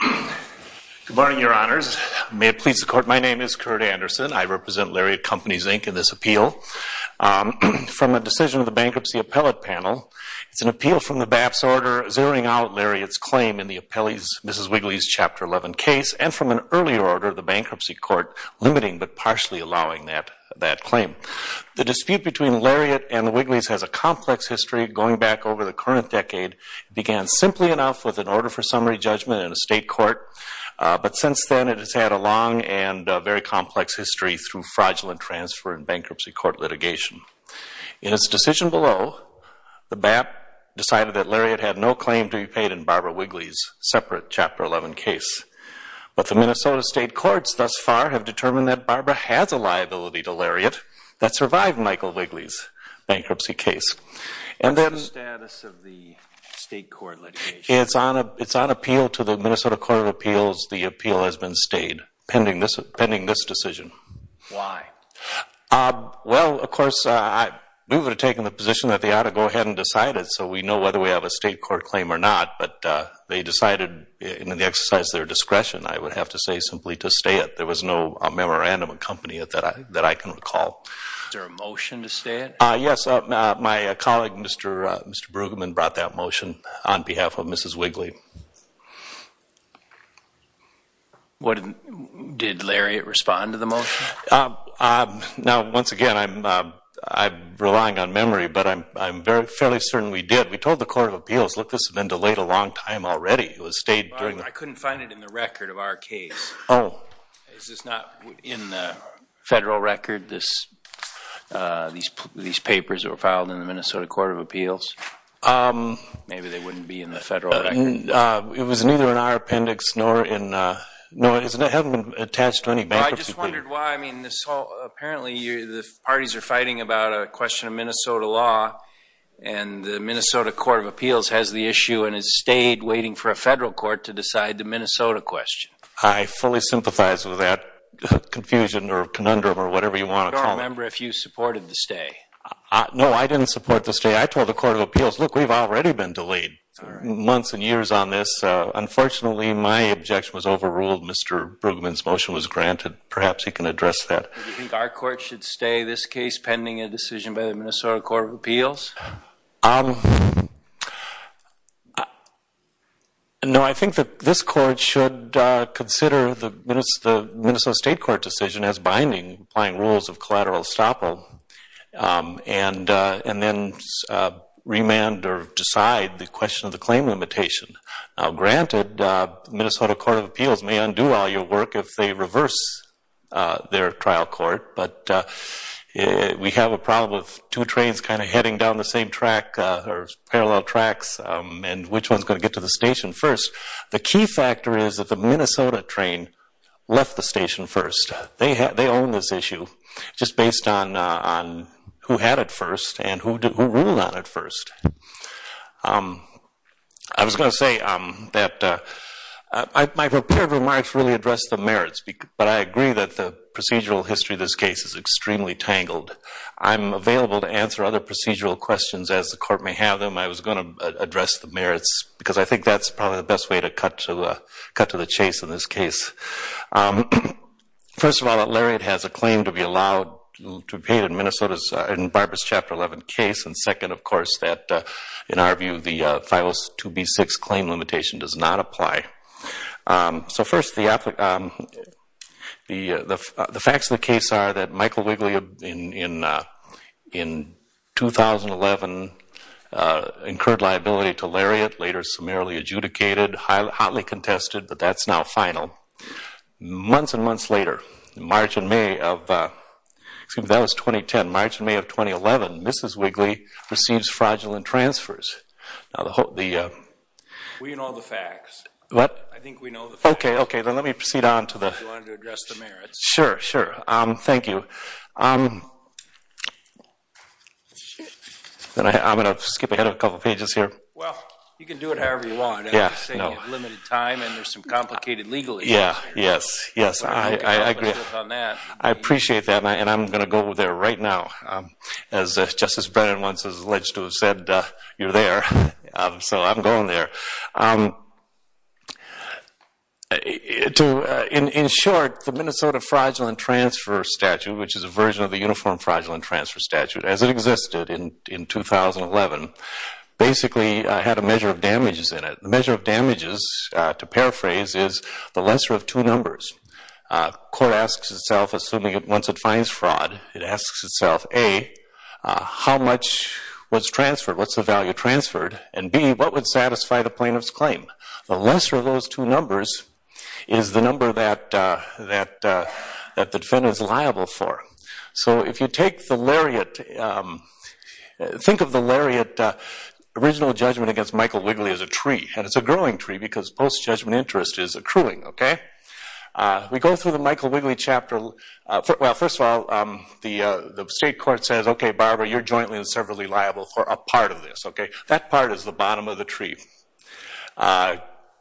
Good morning, Your Honors. May it please the Court, my name is Kurt Anderson. I represent Lariat Companies, Inc. in this appeal from a decision of the Bankruptcy Appellate Panel. It's an appeal from the BAPS order zeroing out Lariat's claim in the Ms. Wigley's Chapter 11 case and from an earlier order of the Bankruptcy Court limiting but partially allowing that claim. The dispute between Lariat and the Wigleys has a complex history going back over the current decade. It began simply enough with an order for summary judgment in a state court, but since then it has had a long and very complex history through fraudulent transfer and bankruptcy court litigation. In its decision below, the BAPS decided that Lariat had no claim to be paid in Barbara Wigley's separate Chapter 11 case. But the Minnesota State Courts thus far have determined that Barbara has a liability to Lariat that survived Michael Wigley's bankruptcy case. And then... What's the status of the state court litigation? It's on appeal to the Minnesota Court of Appeals. The appeal has been stayed pending this decision. Why? Well, of course, we would have taken the position that they ought to go ahead and decide it so we know whether we have a state court claim or not, but they decided in the exercise of their discretion, I would have to say, simply to stay it. There was no memorandum accompanied it that I can recall. Is there a motion to stay it? Yes. My colleague, Mr. Brueggemann, brought that motion on behalf of Mrs. Wigley. Did Lariat respond to the motion? Now, once again, I'm relying on memory, but I'm fairly certain we did. We told the Court of Appeals, look, this has been delayed a long time already. It was stayed during... I couldn't find it in the record of our case. Oh. Is this not in the federal record, these papers that were filed in the Minnesota Court of Appeals? Maybe they wouldn't be in the federal record. It was neither in our appendix nor in... No, it hasn't been attached to any bank. I just wondered why. Apparently, the parties are fighting about a question of Minnesota law, and the Minnesota Court of Appeals has the issue and has stayed waiting for a federal court to decide the Minnesota question. I fully sympathize with that confusion or conundrum or whatever you want to call it. I don't remember if you supported the stay. No, I didn't support the stay. I told the Court of Appeals, look, we've already been delayed months and years on this. Unfortunately, my objection was overruled. Mr. Brueggemann's motion was granted. Perhaps he can address that. Do you think our court should stay this case pending a decision by the Minnesota Court of Appeals? No, I think that this court should consider the Minnesota State Court decision as binding applying rules of collateral estoppel and then remand or decide the question of the claim limitation. Now, granted, the Minnesota Court of Appeals may undo all your work if they reverse their trial court, but we have a problem of two trains kind of heading down the same track or parallel tracks and which one's going to get to the station first. The key factor is that the Minnesota train left the station first. They own this issue just based on who had it first and who ruled on it first. I was going to say that my prepared remarks really address the merits, but I agree that the procedural history of this case is extremely tangled. I'm available to answer other procedural questions as the court may have them. I was going to address the merits because I think that's probably the best way to cut to the chase in this case. First of all, Larry, it has a claim to be allowed to be paid in Minnesota's, in Barbara's Chapter 11 case, and second, of course, that in our view the 502B6 claim limitation does not apply. So first, the facts of the case are that Michael Wigley, in 2011, incurred liability to Lariat, later summarily adjudicated, hotly contested, but that's now final. Months and months later, March and May of, excuse me, that was 2010, March and May of 2011, Mrs. Wigley receives fraudulent transfers. We know the facts. What? I think we know the facts. Okay, okay. Then let me proceed on to the... If you wanted to address the merits. Sure, sure. Thank you. I'm going to skip ahead a couple pages here. Well, you can do it however you want. Yes, no. I'm just saying you have limited time and there's some complicated legal issues here. Yes, yes. I agree. I'll be open to it on that. I appreciate that and I'm going to go there right now. As Justice Brennan once alleged to have said, you're there. So I'm going there. In short, the Minnesota Fraudulent Transfer Statute, which is a version of the Uniform Fraudulent Transfer Statute as it existed in 2011, basically had a measure of damages in it. The measure of damages, to paraphrase, is the lesser of two numbers. Court asks itself, assuming once it finds fraud, it asks itself, A, how much was transferred? What's the value transferred? And B, what would satisfy the plaintiff's claim? The lesser of those two numbers is the number that the defendant is liable for. So if you take the lariat, think of the lariat original judgment against Michael Wigley as a tree, and it's a growing tree because post-judgment interest is accruing. We go through the Michael Wigley chapter. Well, first of all, the state court says, okay, Barbara, you're jointly and severally liable for a part of this. That part is the bottom of the tree.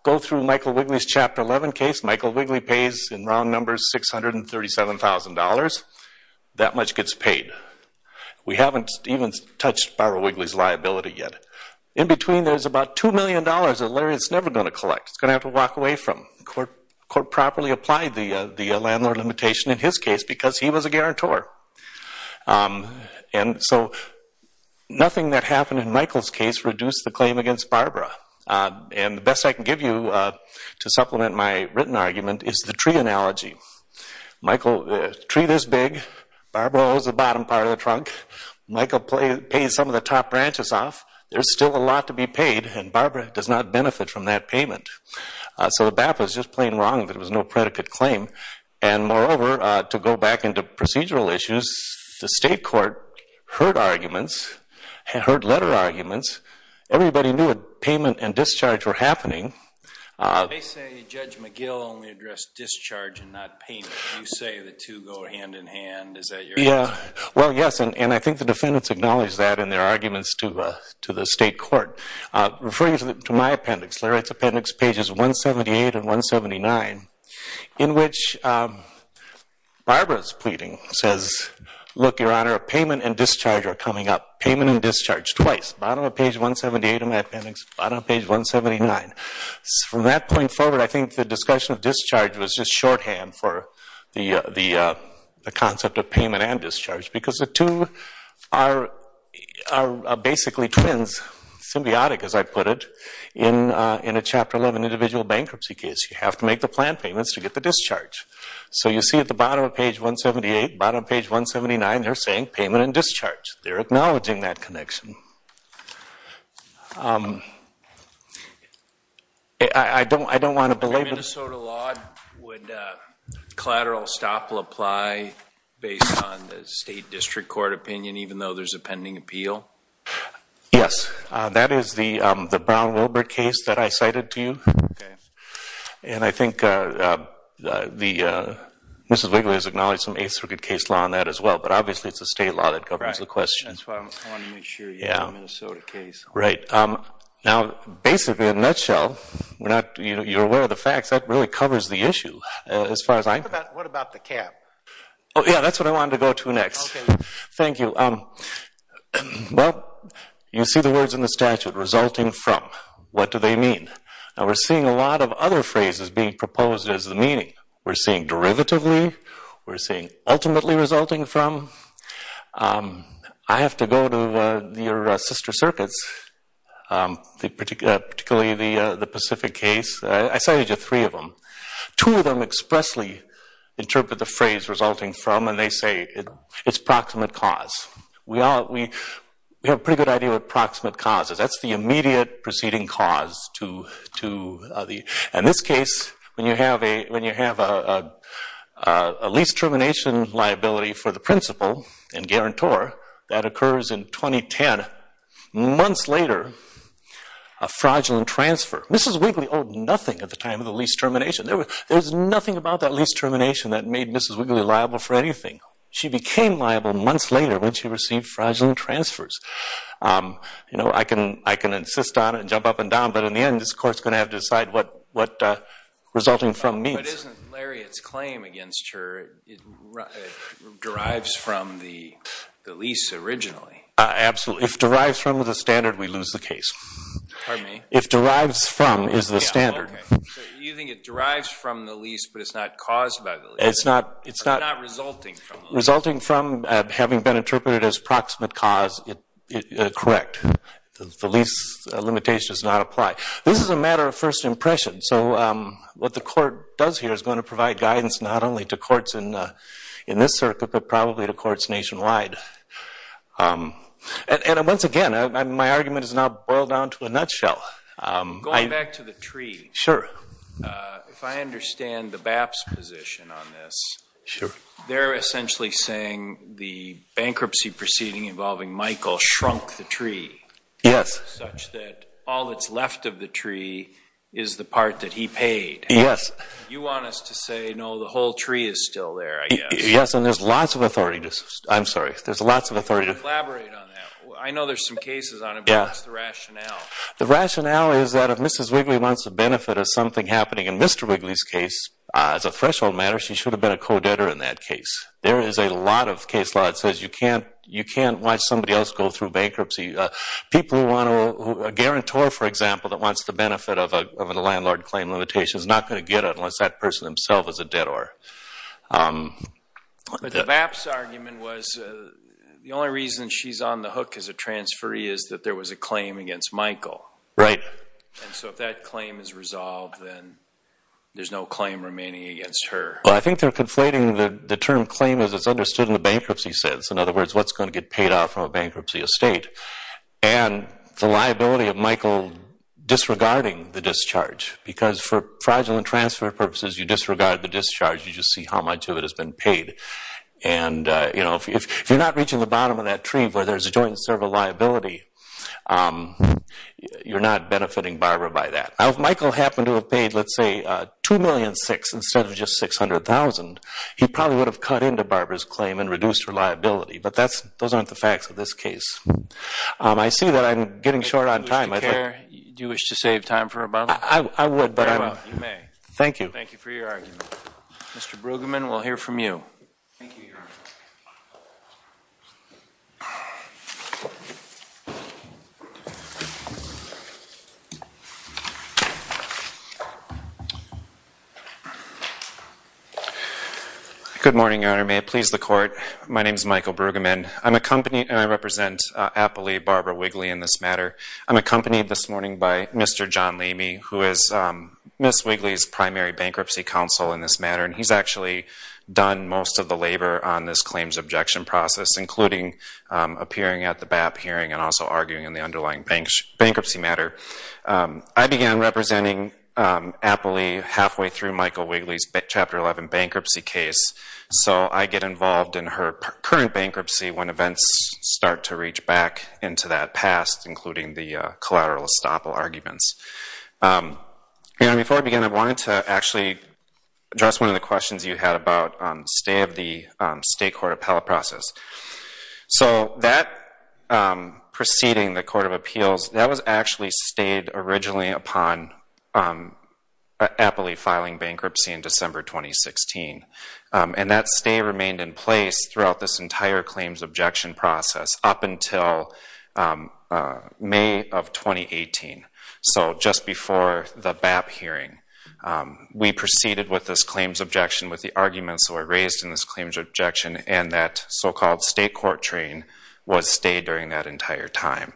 Go through Michael Wigley's Chapter 11 case. Michael Wigley pays, in round numbers, $637,000. That much gets paid. We haven't even touched Barbara Wigley's liability yet. In between, there's about $2 million a lariat's never going to collect. It's going to have to walk away from. The court properly applied the landlord limitation in his case because he was a guarantor. And so nothing that happened in Michael's case reduced the claim against Barbara. And the best I can give you to supplement my written argument is the tree analogy. Michael, tree this big, Barbara holds the bottom part of the trunk. Michael pays some of the top branches off. There's still a lot to be paid, and Barbara does not benefit from that payment. So the BAPA is just plain wrong that it was no predicate claim. And moreover, to go back into procedural issues, the state court heard arguments, heard letter arguments. Everybody knew that payment and discharge were happening. They say Judge McGill only addressed discharge and not payment. Well, yes, and I think the defendants acknowledge that in their arguments to the state court. Referring to my appendix, lariat's appendix, pages 178 and 179, in which Barbara's pleading says, look, Your Honor, payment and discharge are coming up. Payment and discharge twice, bottom of page 178 of my appendix, bottom of page 179. From that point forward, I think the discussion of discharge was just shorthand for the concept of payment and discharge because the two are basically twins, symbiotic as I put it, in a Chapter 11 individual bankruptcy case. You have to make the plan payments to get the discharge. So you see at the bottom of page 178, bottom of page 179, they're saying payment and discharge. They're acknowledging that connection. I don't want to belabor this. Minnesota law, would collateral estoppel apply based on the state district court opinion, even though there's a pending appeal? Yes, that is the Brown-Wilbert case that I cited to you. Okay. And I think Mrs. Wiggler has acknowledged some Eighth Circuit case law on that as well, but obviously it's a state law that governs the question. That's why I wanted to make sure you had a Minnesota case. Right. Now, basically, in a nutshell, you're aware of the facts. That really covers the issue as far as I'm concerned. What about the cap? Oh, yeah, that's what I wanted to go to next. Okay. Thank you. Well, you see the words in the statute, resulting from. What do they mean? Now, we're seeing a lot of other phrases being proposed as the meaning. We're seeing derivatively. We're seeing ultimately resulting from. I have to go to your sister circuits, particularly the Pacific case. I cited you three of them. Two of them expressly interpret the phrase resulting from, and they say it's proximate cause. We have a pretty good idea what proximate cause is. That's the immediate preceding cause. In this case, when you have a lease termination liability for the principal and guarantor, that occurs in 2010. Months later, a fraudulent transfer. Mrs. Wigley owed nothing at the time of the lease termination. There was nothing about that lease termination that made Mrs. Wigley liable for anything. She became liable months later when she received fraudulent transfers. I can insist on it and jump up and down, but in the end, this court is going to have to decide what resulting from means. But isn't Lariat's claim against her, it derives from the lease originally? Absolutely. If it derives from the standard, we lose the case. Pardon me? If derives from is the standard. Okay. So you think it derives from the lease, but it's not caused by the lease? It's not resulting from the lease. Correct. The lease limitation does not apply. This is a matter of first impression. So what the court does here is going to provide guidance not only to courts in this circuit, but probably to courts nationwide. And once again, my argument is now boiled down to a nutshell. Going back to the tree. Sure. If I understand the BAP's position on this. Sure. They're essentially saying the bankruptcy proceeding involving Michael shrunk the tree. Yes. Such that all that's left of the tree is the part that he paid. Yes. You want us to say, no, the whole tree is still there, I guess. Yes, and there's lots of authority. I'm sorry. There's lots of authority. Collaborate on that. I know there's some cases on it, but what's the rationale? The rationale is that if Mrs. Wigley wants the benefit of something happening in Mr. Wigley's case, as a threshold matter, she should have been a co-debtor in that case. There is a lot of case law that says you can't watch somebody else go through bankruptcy. A guarantor, for example, that wants the benefit of a landlord claim limitation is not going to get it unless that person himself is a debtor. But the BAP's argument was the only reason she's on the hook as a transferee is that there was a claim against Michael. Right. And so if that claim is resolved, then there's no claim remaining against her. Well, I think they're conflating the term claim as it's understood in the bankruptcy sense. In other words, what's going to get paid off from a bankruptcy estate? And the liability of Michael disregarding the discharge, because for fraudulent transfer purposes, you disregard the discharge. You just see how much of it has been paid. And, you know, if you're not reaching the bottom of that tree where there's a joint and several liability, you're not benefiting Barbara by that. If Michael happened to have paid, let's say, $2,600,000 instead of just $600,000, he probably would have cut into Barbara's claim and reduced her liability. But those aren't the facts of this case. I see that I'm getting short on time. Do you wish to save time for a moment? I would. You may. Thank you. Thank you for your argument. Mr. Brueggemann, we'll hear from you. Thank you, Your Honor. Thank you. Good morning, Your Honor. May it please the Court. My name is Michael Brueggemann. I'm accompanied, and I represent Appley, Barbara Wigley, in this matter. I'm accompanied this morning by Mr. John Leamy, who is Ms. Wigley's primary bankruptcy counsel in this matter. And he's actually done most of the labor on this claims objection process, including appearing at the BAP hearing and also arguing in the underlying bankruptcy matter. I began representing Appley halfway through Michael Wigley's Chapter 11 bankruptcy case, so I get involved in her current bankruptcy when events start to reach back into that past, including the collateral estoppel arguments. Your Honor, before I begin, I wanted to actually address one of the questions you had about the stay of the state court appellate process. So that proceeding, the Court of Appeals, that was actually stayed originally upon Appley filing bankruptcy in December 2016. And that stay remained in place throughout this entire claims objection process up until May of 2018, so just before the BAP hearing. We proceeded with this claims objection with the arguments that were raised in this claims objection and that so-called state court train was stayed during that entire time.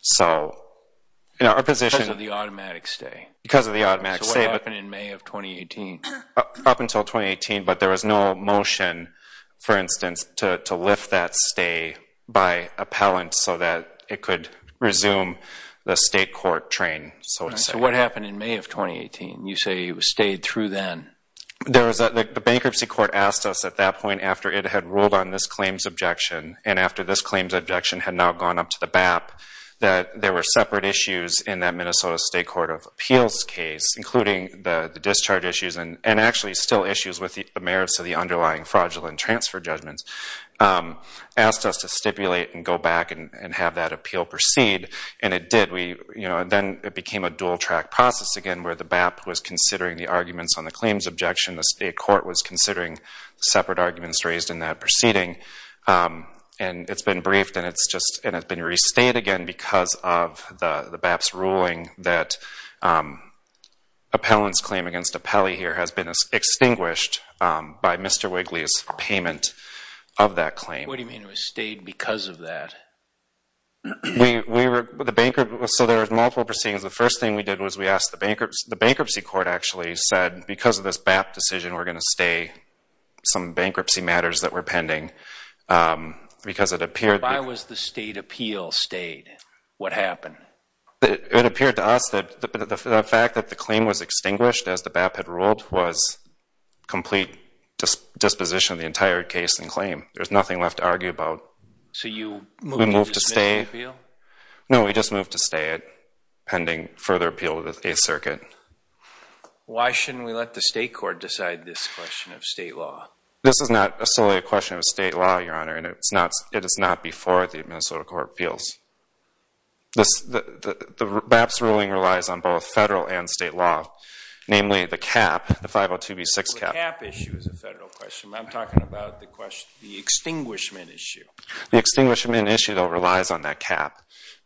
So our position— Because of the automatic stay. Because of the automatic stay. So what happened in May of 2018? Up until 2018, but there was no motion, for instance, to lift that stay by appellant so that it could resume the state court train. So what happened in May of 2018? You say it was stayed through then. The bankruptcy court asked us at that point, after it had ruled on this claims objection and after this claims objection had now gone up to the BAP, that there were separate issues in that Minnesota State Court of Appeals case, including the discharge issues and actually still issues with the merits of the underlying fraudulent transfer judgments, asked us to stipulate and go back and have that appeal proceed. And it did. Then it became a dual-track process again where the BAP was considering the arguments on the claims objection, the state court was considering separate arguments raised in that proceeding, and it's been briefed and it's been restayed again because of the BAP's ruling that appellant's claim against appellee here has been extinguished by Mr. Wigley's payment of that claim. What do you mean it was stayed because of that? So there were multiple proceedings. The first thing we did was we asked the bankruptcy court actually said because of this BAP decision, we're going to stay some bankruptcy matters that were pending because it appeared— Why was the state appeal stayed? What happened? It appeared to us that the fact that the claim was extinguished, as the BAP had ruled, was complete disposition of the entire case and claim. There's nothing left to argue about. So you moved to dismiss the appeal? No, we just moved to stay it pending further appeal with the Eighth Circuit. Why shouldn't we let the state court decide this question of state law? This is not solely a question of state law, Your Honor, and it is not before the Minnesota Court of Appeals. The BAP's ruling relies on both federal and state law, namely the cap, the 502b6 cap. The cap issue is a federal question. I'm talking about the extinguishment issue. The extinguishment issue, though, relies on that cap.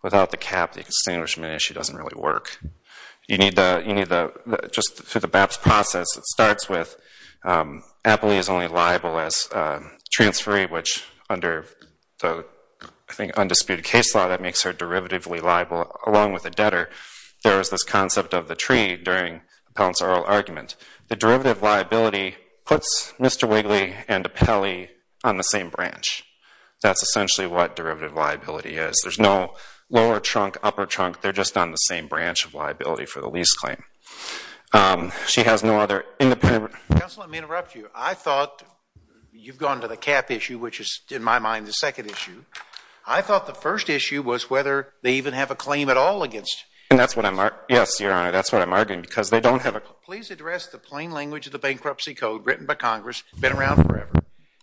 Without the cap, the extinguishment issue doesn't really work. You need the—just through the BAP's process, it starts with Appley is only liable as transferee, which under the, I think, undisputed case law, that makes her derivatively liable along with the debtor. There was this concept of the tree during Appellant's oral argument. The derivative liability puts Mr. Wigley and Appellee on the same branch. That's essentially what derivative liability is. There's no lower trunk, upper trunk. They're just on the same branch of liability for the lease claim. She has no other independent— Counsel, let me interrupt you. I thought you've gone to the cap issue, which is, in my mind, the second issue. I thought the first issue was whether they even have a claim at all against— And that's what I'm—yes, Your Honor, that's what I'm arguing, because they don't have a— Counsel, please address the plain language of the bankruptcy code written by Congress, been around forever.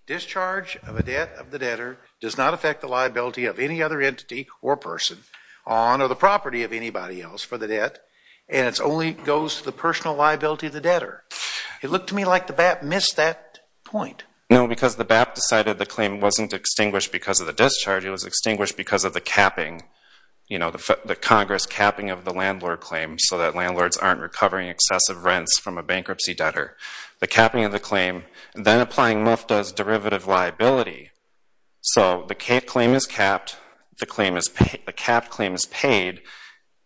Discharge of a debt of the debtor does not affect the liability of any other entity or person on or the property of anybody else for the debt, and it only goes to the personal liability of the debtor. It looked to me like the BAP missed that point. No, because the BAP decided the claim wasn't extinguished because of the discharge. It was extinguished because of the capping, you know, the Congress capping of the landlord claim so that landlords aren't recovering excessive rents from a bankruptcy debtor. The capping of the claim, then applying MUFTA's derivative liability, so the claim is capped, the capped claim is paid,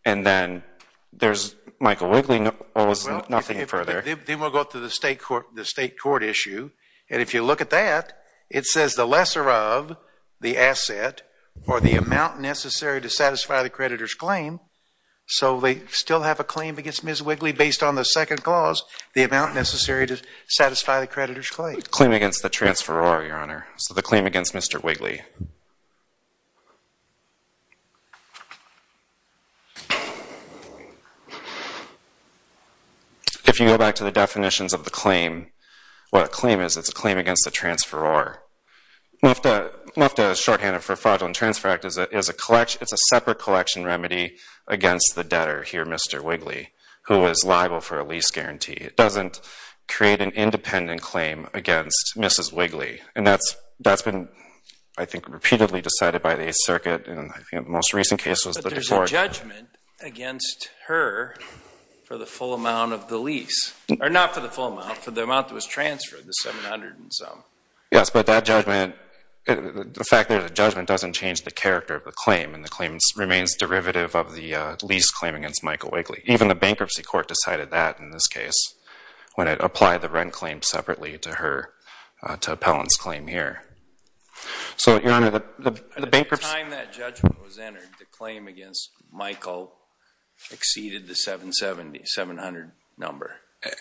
and then there's Michael Wigley owes nothing further. Then we'll go to the state court issue, and if you look at that, it says the lesser of the asset or the amount necessary to satisfy the creditor's claim, so they still have a claim against Ms. Wigley based on the second clause, the amount necessary to satisfy the creditor's claim. The claim against the transferor, Your Honor, so the claim against Mr. Wigley. If you go back to the definitions of the claim, what a claim is, it's a claim against the transferor. MUFTA's shorthand for Fraudulent Transfer Act is a separate collection remedy against the debtor here, Mr. Wigley, who is liable for a lease guarantee. It doesn't create an independent claim against Mrs. Wigley, and that's been, I think, repeatedly decided by the 8th Circuit, and I think the most recent case was the court. But there's a judgment against her for the full amount of the lease, or not for the full amount, for the amount that was transferred, the $700 and some. Yes, but that judgment, the fact that there's a judgment doesn't change the character of the claim, and the claim remains derivative of the lease claim against Michael Wigley. Even the Bankruptcy Court decided that in this case when it applied the rent claim separately to Appellant's claim here. So, Your Honor, the Bankruptcy Court... At the time that judgment was entered, the claim against Michael exceeded the $700 number.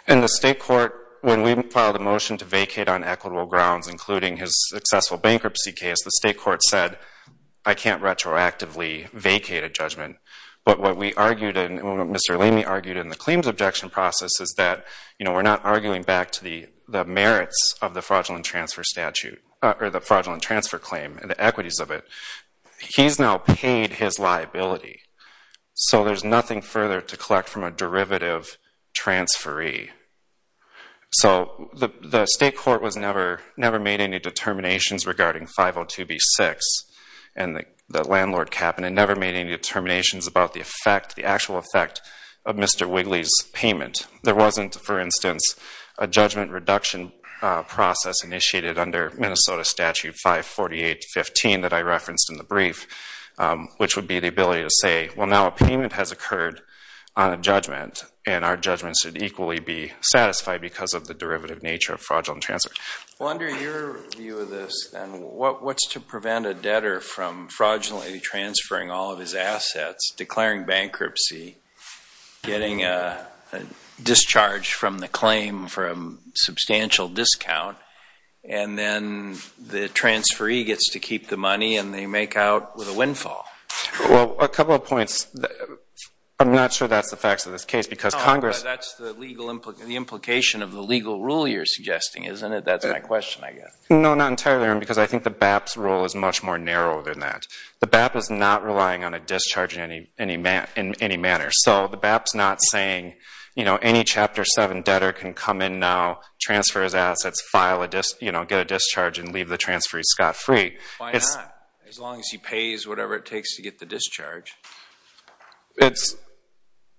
And the State Court, when we filed a motion to vacate on equitable grounds, including his successful bankruptcy case, the State Court said, I can't retroactively vacate a judgment. But what we argued, and what Mr. Lamey argued in the claims objection process, is that we're not arguing back to the merits of the fraudulent transfer statute, or the fraudulent transfer claim, and the equities of it. He's now paid his liability. So there's nothing further to collect from a derivative transferee. So the State Court never made any determinations regarding 502b-6, and the landlord cap, and it never made any determinations about the effect, the actual effect of Mr. Wigley's payment. There wasn't, for instance, a judgment reduction process initiated under Minnesota Statute 548-15 that I referenced in the brief, which would be the ability to say, well, now a payment has occurred on a judgment, and our judgment should equally be satisfied because of the derivative nature of fraudulent transfer. Well, under your view of this, then, what's to prevent a debtor from fraudulently transferring all of his assets, declaring bankruptcy, getting a discharge from the claim for a substantial discount, and then the transferee gets to keep the money and they make out with a windfall? Well, a couple of points. I'm not sure that's the facts of this case because Congress... No, but that's the legal implication of the legal rule you're suggesting, isn't it? That's my question, I guess. No, not entirely, because I think the BAP's rule is much more narrow than that. The BAP is not relying on a discharge in any manner. So the BAP's not saying, you know, any Chapter 7 debtor can come in now, transfer his assets, get a discharge, and leave the transferee scot-free. Why not, as long as he pays whatever it takes to get the discharge?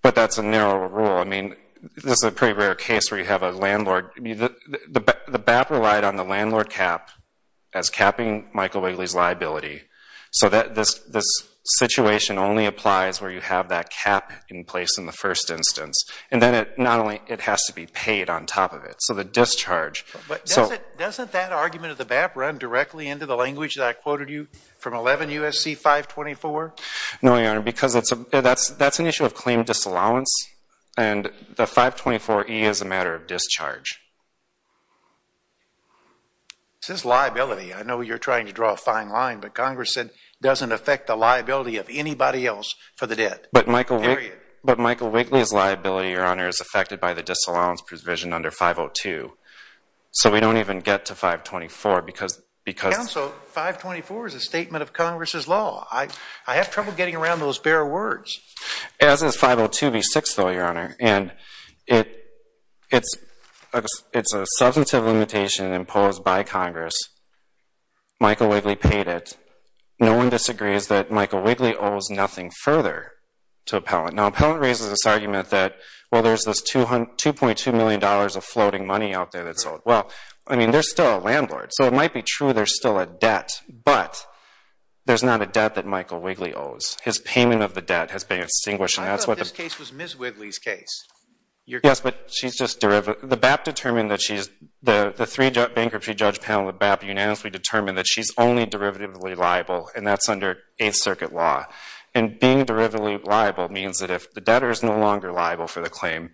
But that's a narrow rule. I mean, this is a pretty rare case where you have a landlord. The BAP relied on the landlord cap as capping Michael Wigley's liability. So this situation only applies where you have that cap in place in the first instance. And then not only it has to be paid on top of it. So the discharge... But doesn't that argument of the BAP run directly into the language that I quoted you from 11 U.S.C. 524? No, Your Honor, because that's an issue of claim disallowance, and the 524E is a matter of discharge. This is liability. I know you're trying to draw a fine line, but Congress said it doesn't affect the liability of anybody else for the debt, period. But Michael Wigley's liability, Your Honor, is affected by the disallowance provision under 502. So we don't even get to 524 because... Counsel, 524 is a statement of Congress's law. I have trouble getting around those bare words. As is 502B6, though, Your Honor. And it's a substantive limitation imposed by Congress. Michael Wigley paid it. No one disagrees that Michael Wigley owes nothing further to appellant. Now, appellant raises this argument that, well, there's this $2.2 million of floating money out there that's owed. Well, I mean, there's still a landlord. So it might be true there's still a debt, but there's not a debt that Michael Wigley owes. His payment of the debt has been extinguished. I thought this case was Ms. Wigley's case. Yes, but she's just... The BAP determined that she's... The three bankruptcy judge panel at BAP unanimously determined that she's only derivatively liable, and that's under Eighth Circuit law. And being derivatively liable means that if the debtor is no longer liable for the claim,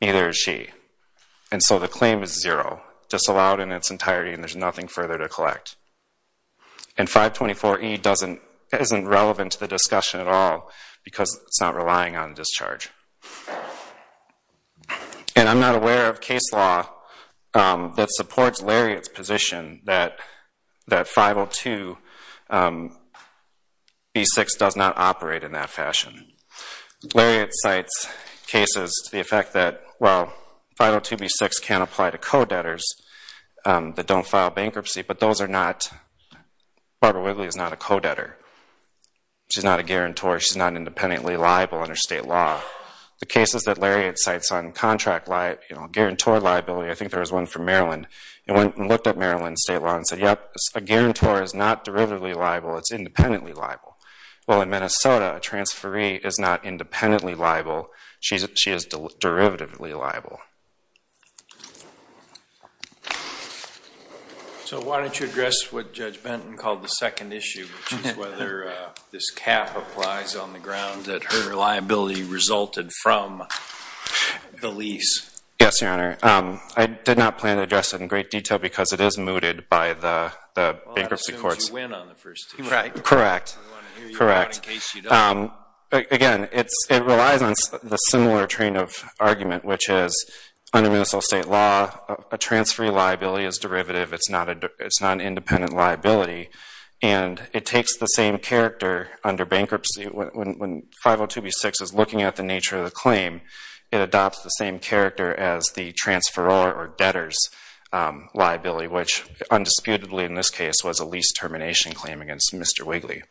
neither is she. And so the claim is zero, disallowed in its entirety, and there's nothing further to collect. And 524E isn't relevant to the discussion at all because it's not relying on discharge. And I'm not aware of case law that supports Lariat's position that 502B6 does not operate in that fashion. Lariat cites cases to the effect that, well, 502B6 can apply to co-debtors that don't file bankruptcy, but Barbara Wigley is not a co-debtor. She's not a guarantor. She's not independently liable under state law. The cases that Lariat cites on contract, you know, guarantor liability, I think there was one from Maryland. It went and looked at Maryland state law and said, yep, a guarantor is not derivatively liable. It's independently liable. Well, in Minnesota, a transferee is not independently liable. She is derivatively liable. So why don't you address what Judge Benton called the second issue, which is whether this cap applies on the ground that her liability resulted from the lease? Yes, Your Honor. I did not plan to address it in great detail because it is mooted by the bankruptcy courts. Well, as soon as you win on the first issue. Correct. Correct. Again, it relies on the similar train of argument, which is under Minnesota state law, a transferee liability is derivative. It's not an independent liability. And it takes the same character under bankruptcy. When 502B6 is looking at the nature of the claim, it adopts the same character as the transferor or debtor's liability, which undisputedly in this case was a lease termination claim against Mr. Wigley.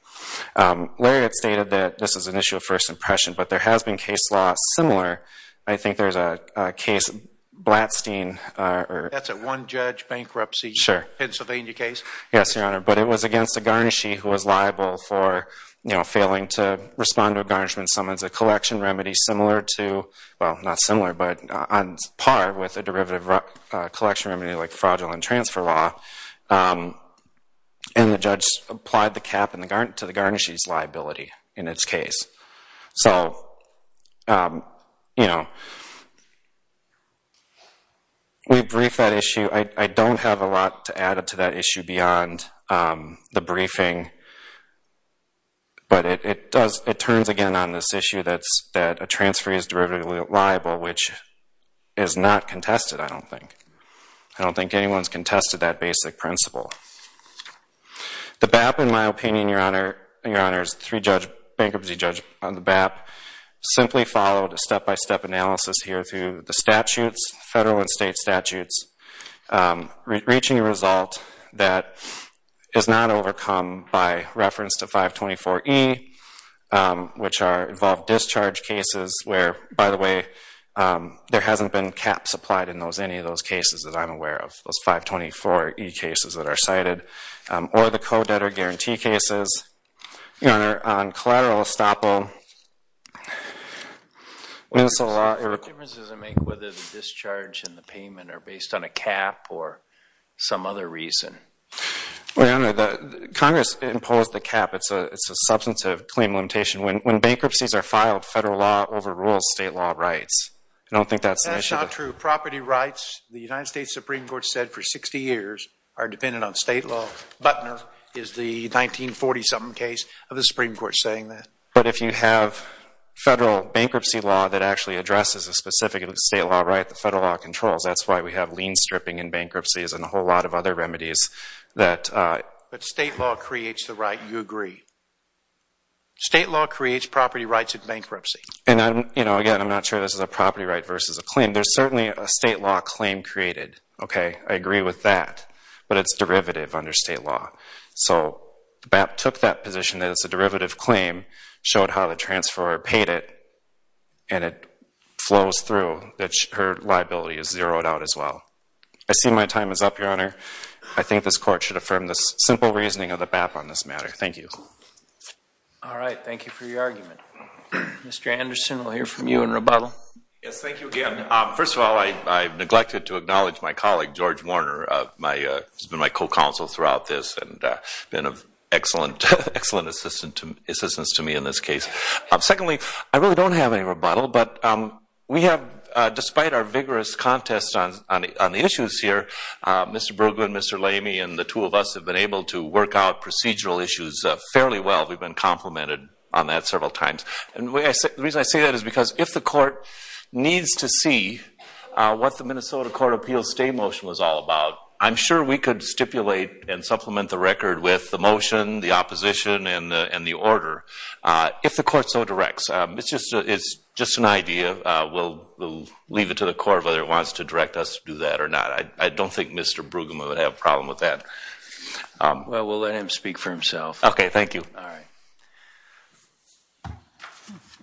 Lariat stated that this is an issue of first impression, but there has been case law similar. I think there's a case Blatstein. That's a one-judge bankruptcy Pennsylvania case? Sure. Yes, Your Honor. But it was against a garnishee who was liable for, you know, failing to respond to a garnishment summons, a collection remedy similar to, well, not similar, but on par with a derivative collection remedy like fraudulent transfer law. And the judge applied the cap to the garnishee's liability in its case. So, you know, we brief that issue. I don't have a lot to add to that issue beyond the briefing, but it turns again on this issue that a transferee is derivatively liable, which is not contested, I don't think. I don't think anyone has contested that basic principle. The BAP, in my opinion, Your Honor, and Your Honor's three-judge bankruptcy judge on the BAP, simply followed a step-by-step analysis here through the statutes, federal and state statutes, reaching a result that is not overcome by reference to 524E, which are involved discharge cases where, by the way, there hasn't been caps applied in any of those cases that I'm aware of, those 524E cases that are cited, or the co-debtor guarantee cases. Your Honor, on collateral estoppel, what difference does it make whether the discharge and the payment are based on a cap or some other reason? Well, Your Honor, Congress imposed the cap. It's a substantive claim limitation. When bankruptcies are filed, federal law overrules state law rights. I don't think that's the issue. That's not true. The property rights, the United States Supreme Court said for 60 years, are dependent on state law. Butner is the 1940-something case of the Supreme Court saying that. But if you have federal bankruptcy law that actually addresses a specific state law right that federal law controls, that's why we have lien stripping and bankruptcies and a whole lot of other remedies that... But state law creates the right, you agree. State law creates property rights in bankruptcy. And, again, I'm not sure this is a property right versus a claim. I mean, there's certainly a state law claim created, okay? I agree with that. But it's derivative under state law. So BAP took that position that it's a derivative claim, showed how the transferor paid it, and it flows through that her liability is zeroed out as well. I see my time is up, Your Honor. I think this Court should affirm the simple reasoning of the BAP on this matter. Thank you. All right, thank you for your argument. Mr. Anderson, we'll hear from you in rebuttal. Yes, thank you again. First of all, I neglected to acknowledge my colleague, George Warner, who's been my co-counsel throughout this and been of excellent assistance to me in this case. Secondly, I really don't have any rebuttal, but we have, despite our vigorous contest on the issues here, Mr. Brueggemann, Mr. Lamy, and the two of us have been able to work out procedural issues fairly well. We've been complimented on that several times. The reason I say that is because if the Court needs to see what the Minnesota Court of Appeals stay motion was all about, I'm sure we could stipulate and supplement the record with the motion, the opposition, and the order if the Court so directs. It's just an idea. We'll leave it to the Court whether it wants to direct us to do that or not. I don't think Mr. Brueggemann would have a problem with that. Well, we'll let him speak for himself. Okay, thank you. All right.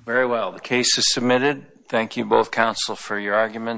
Very well, the case is submitted. Thank you, both counsel, for your arguments.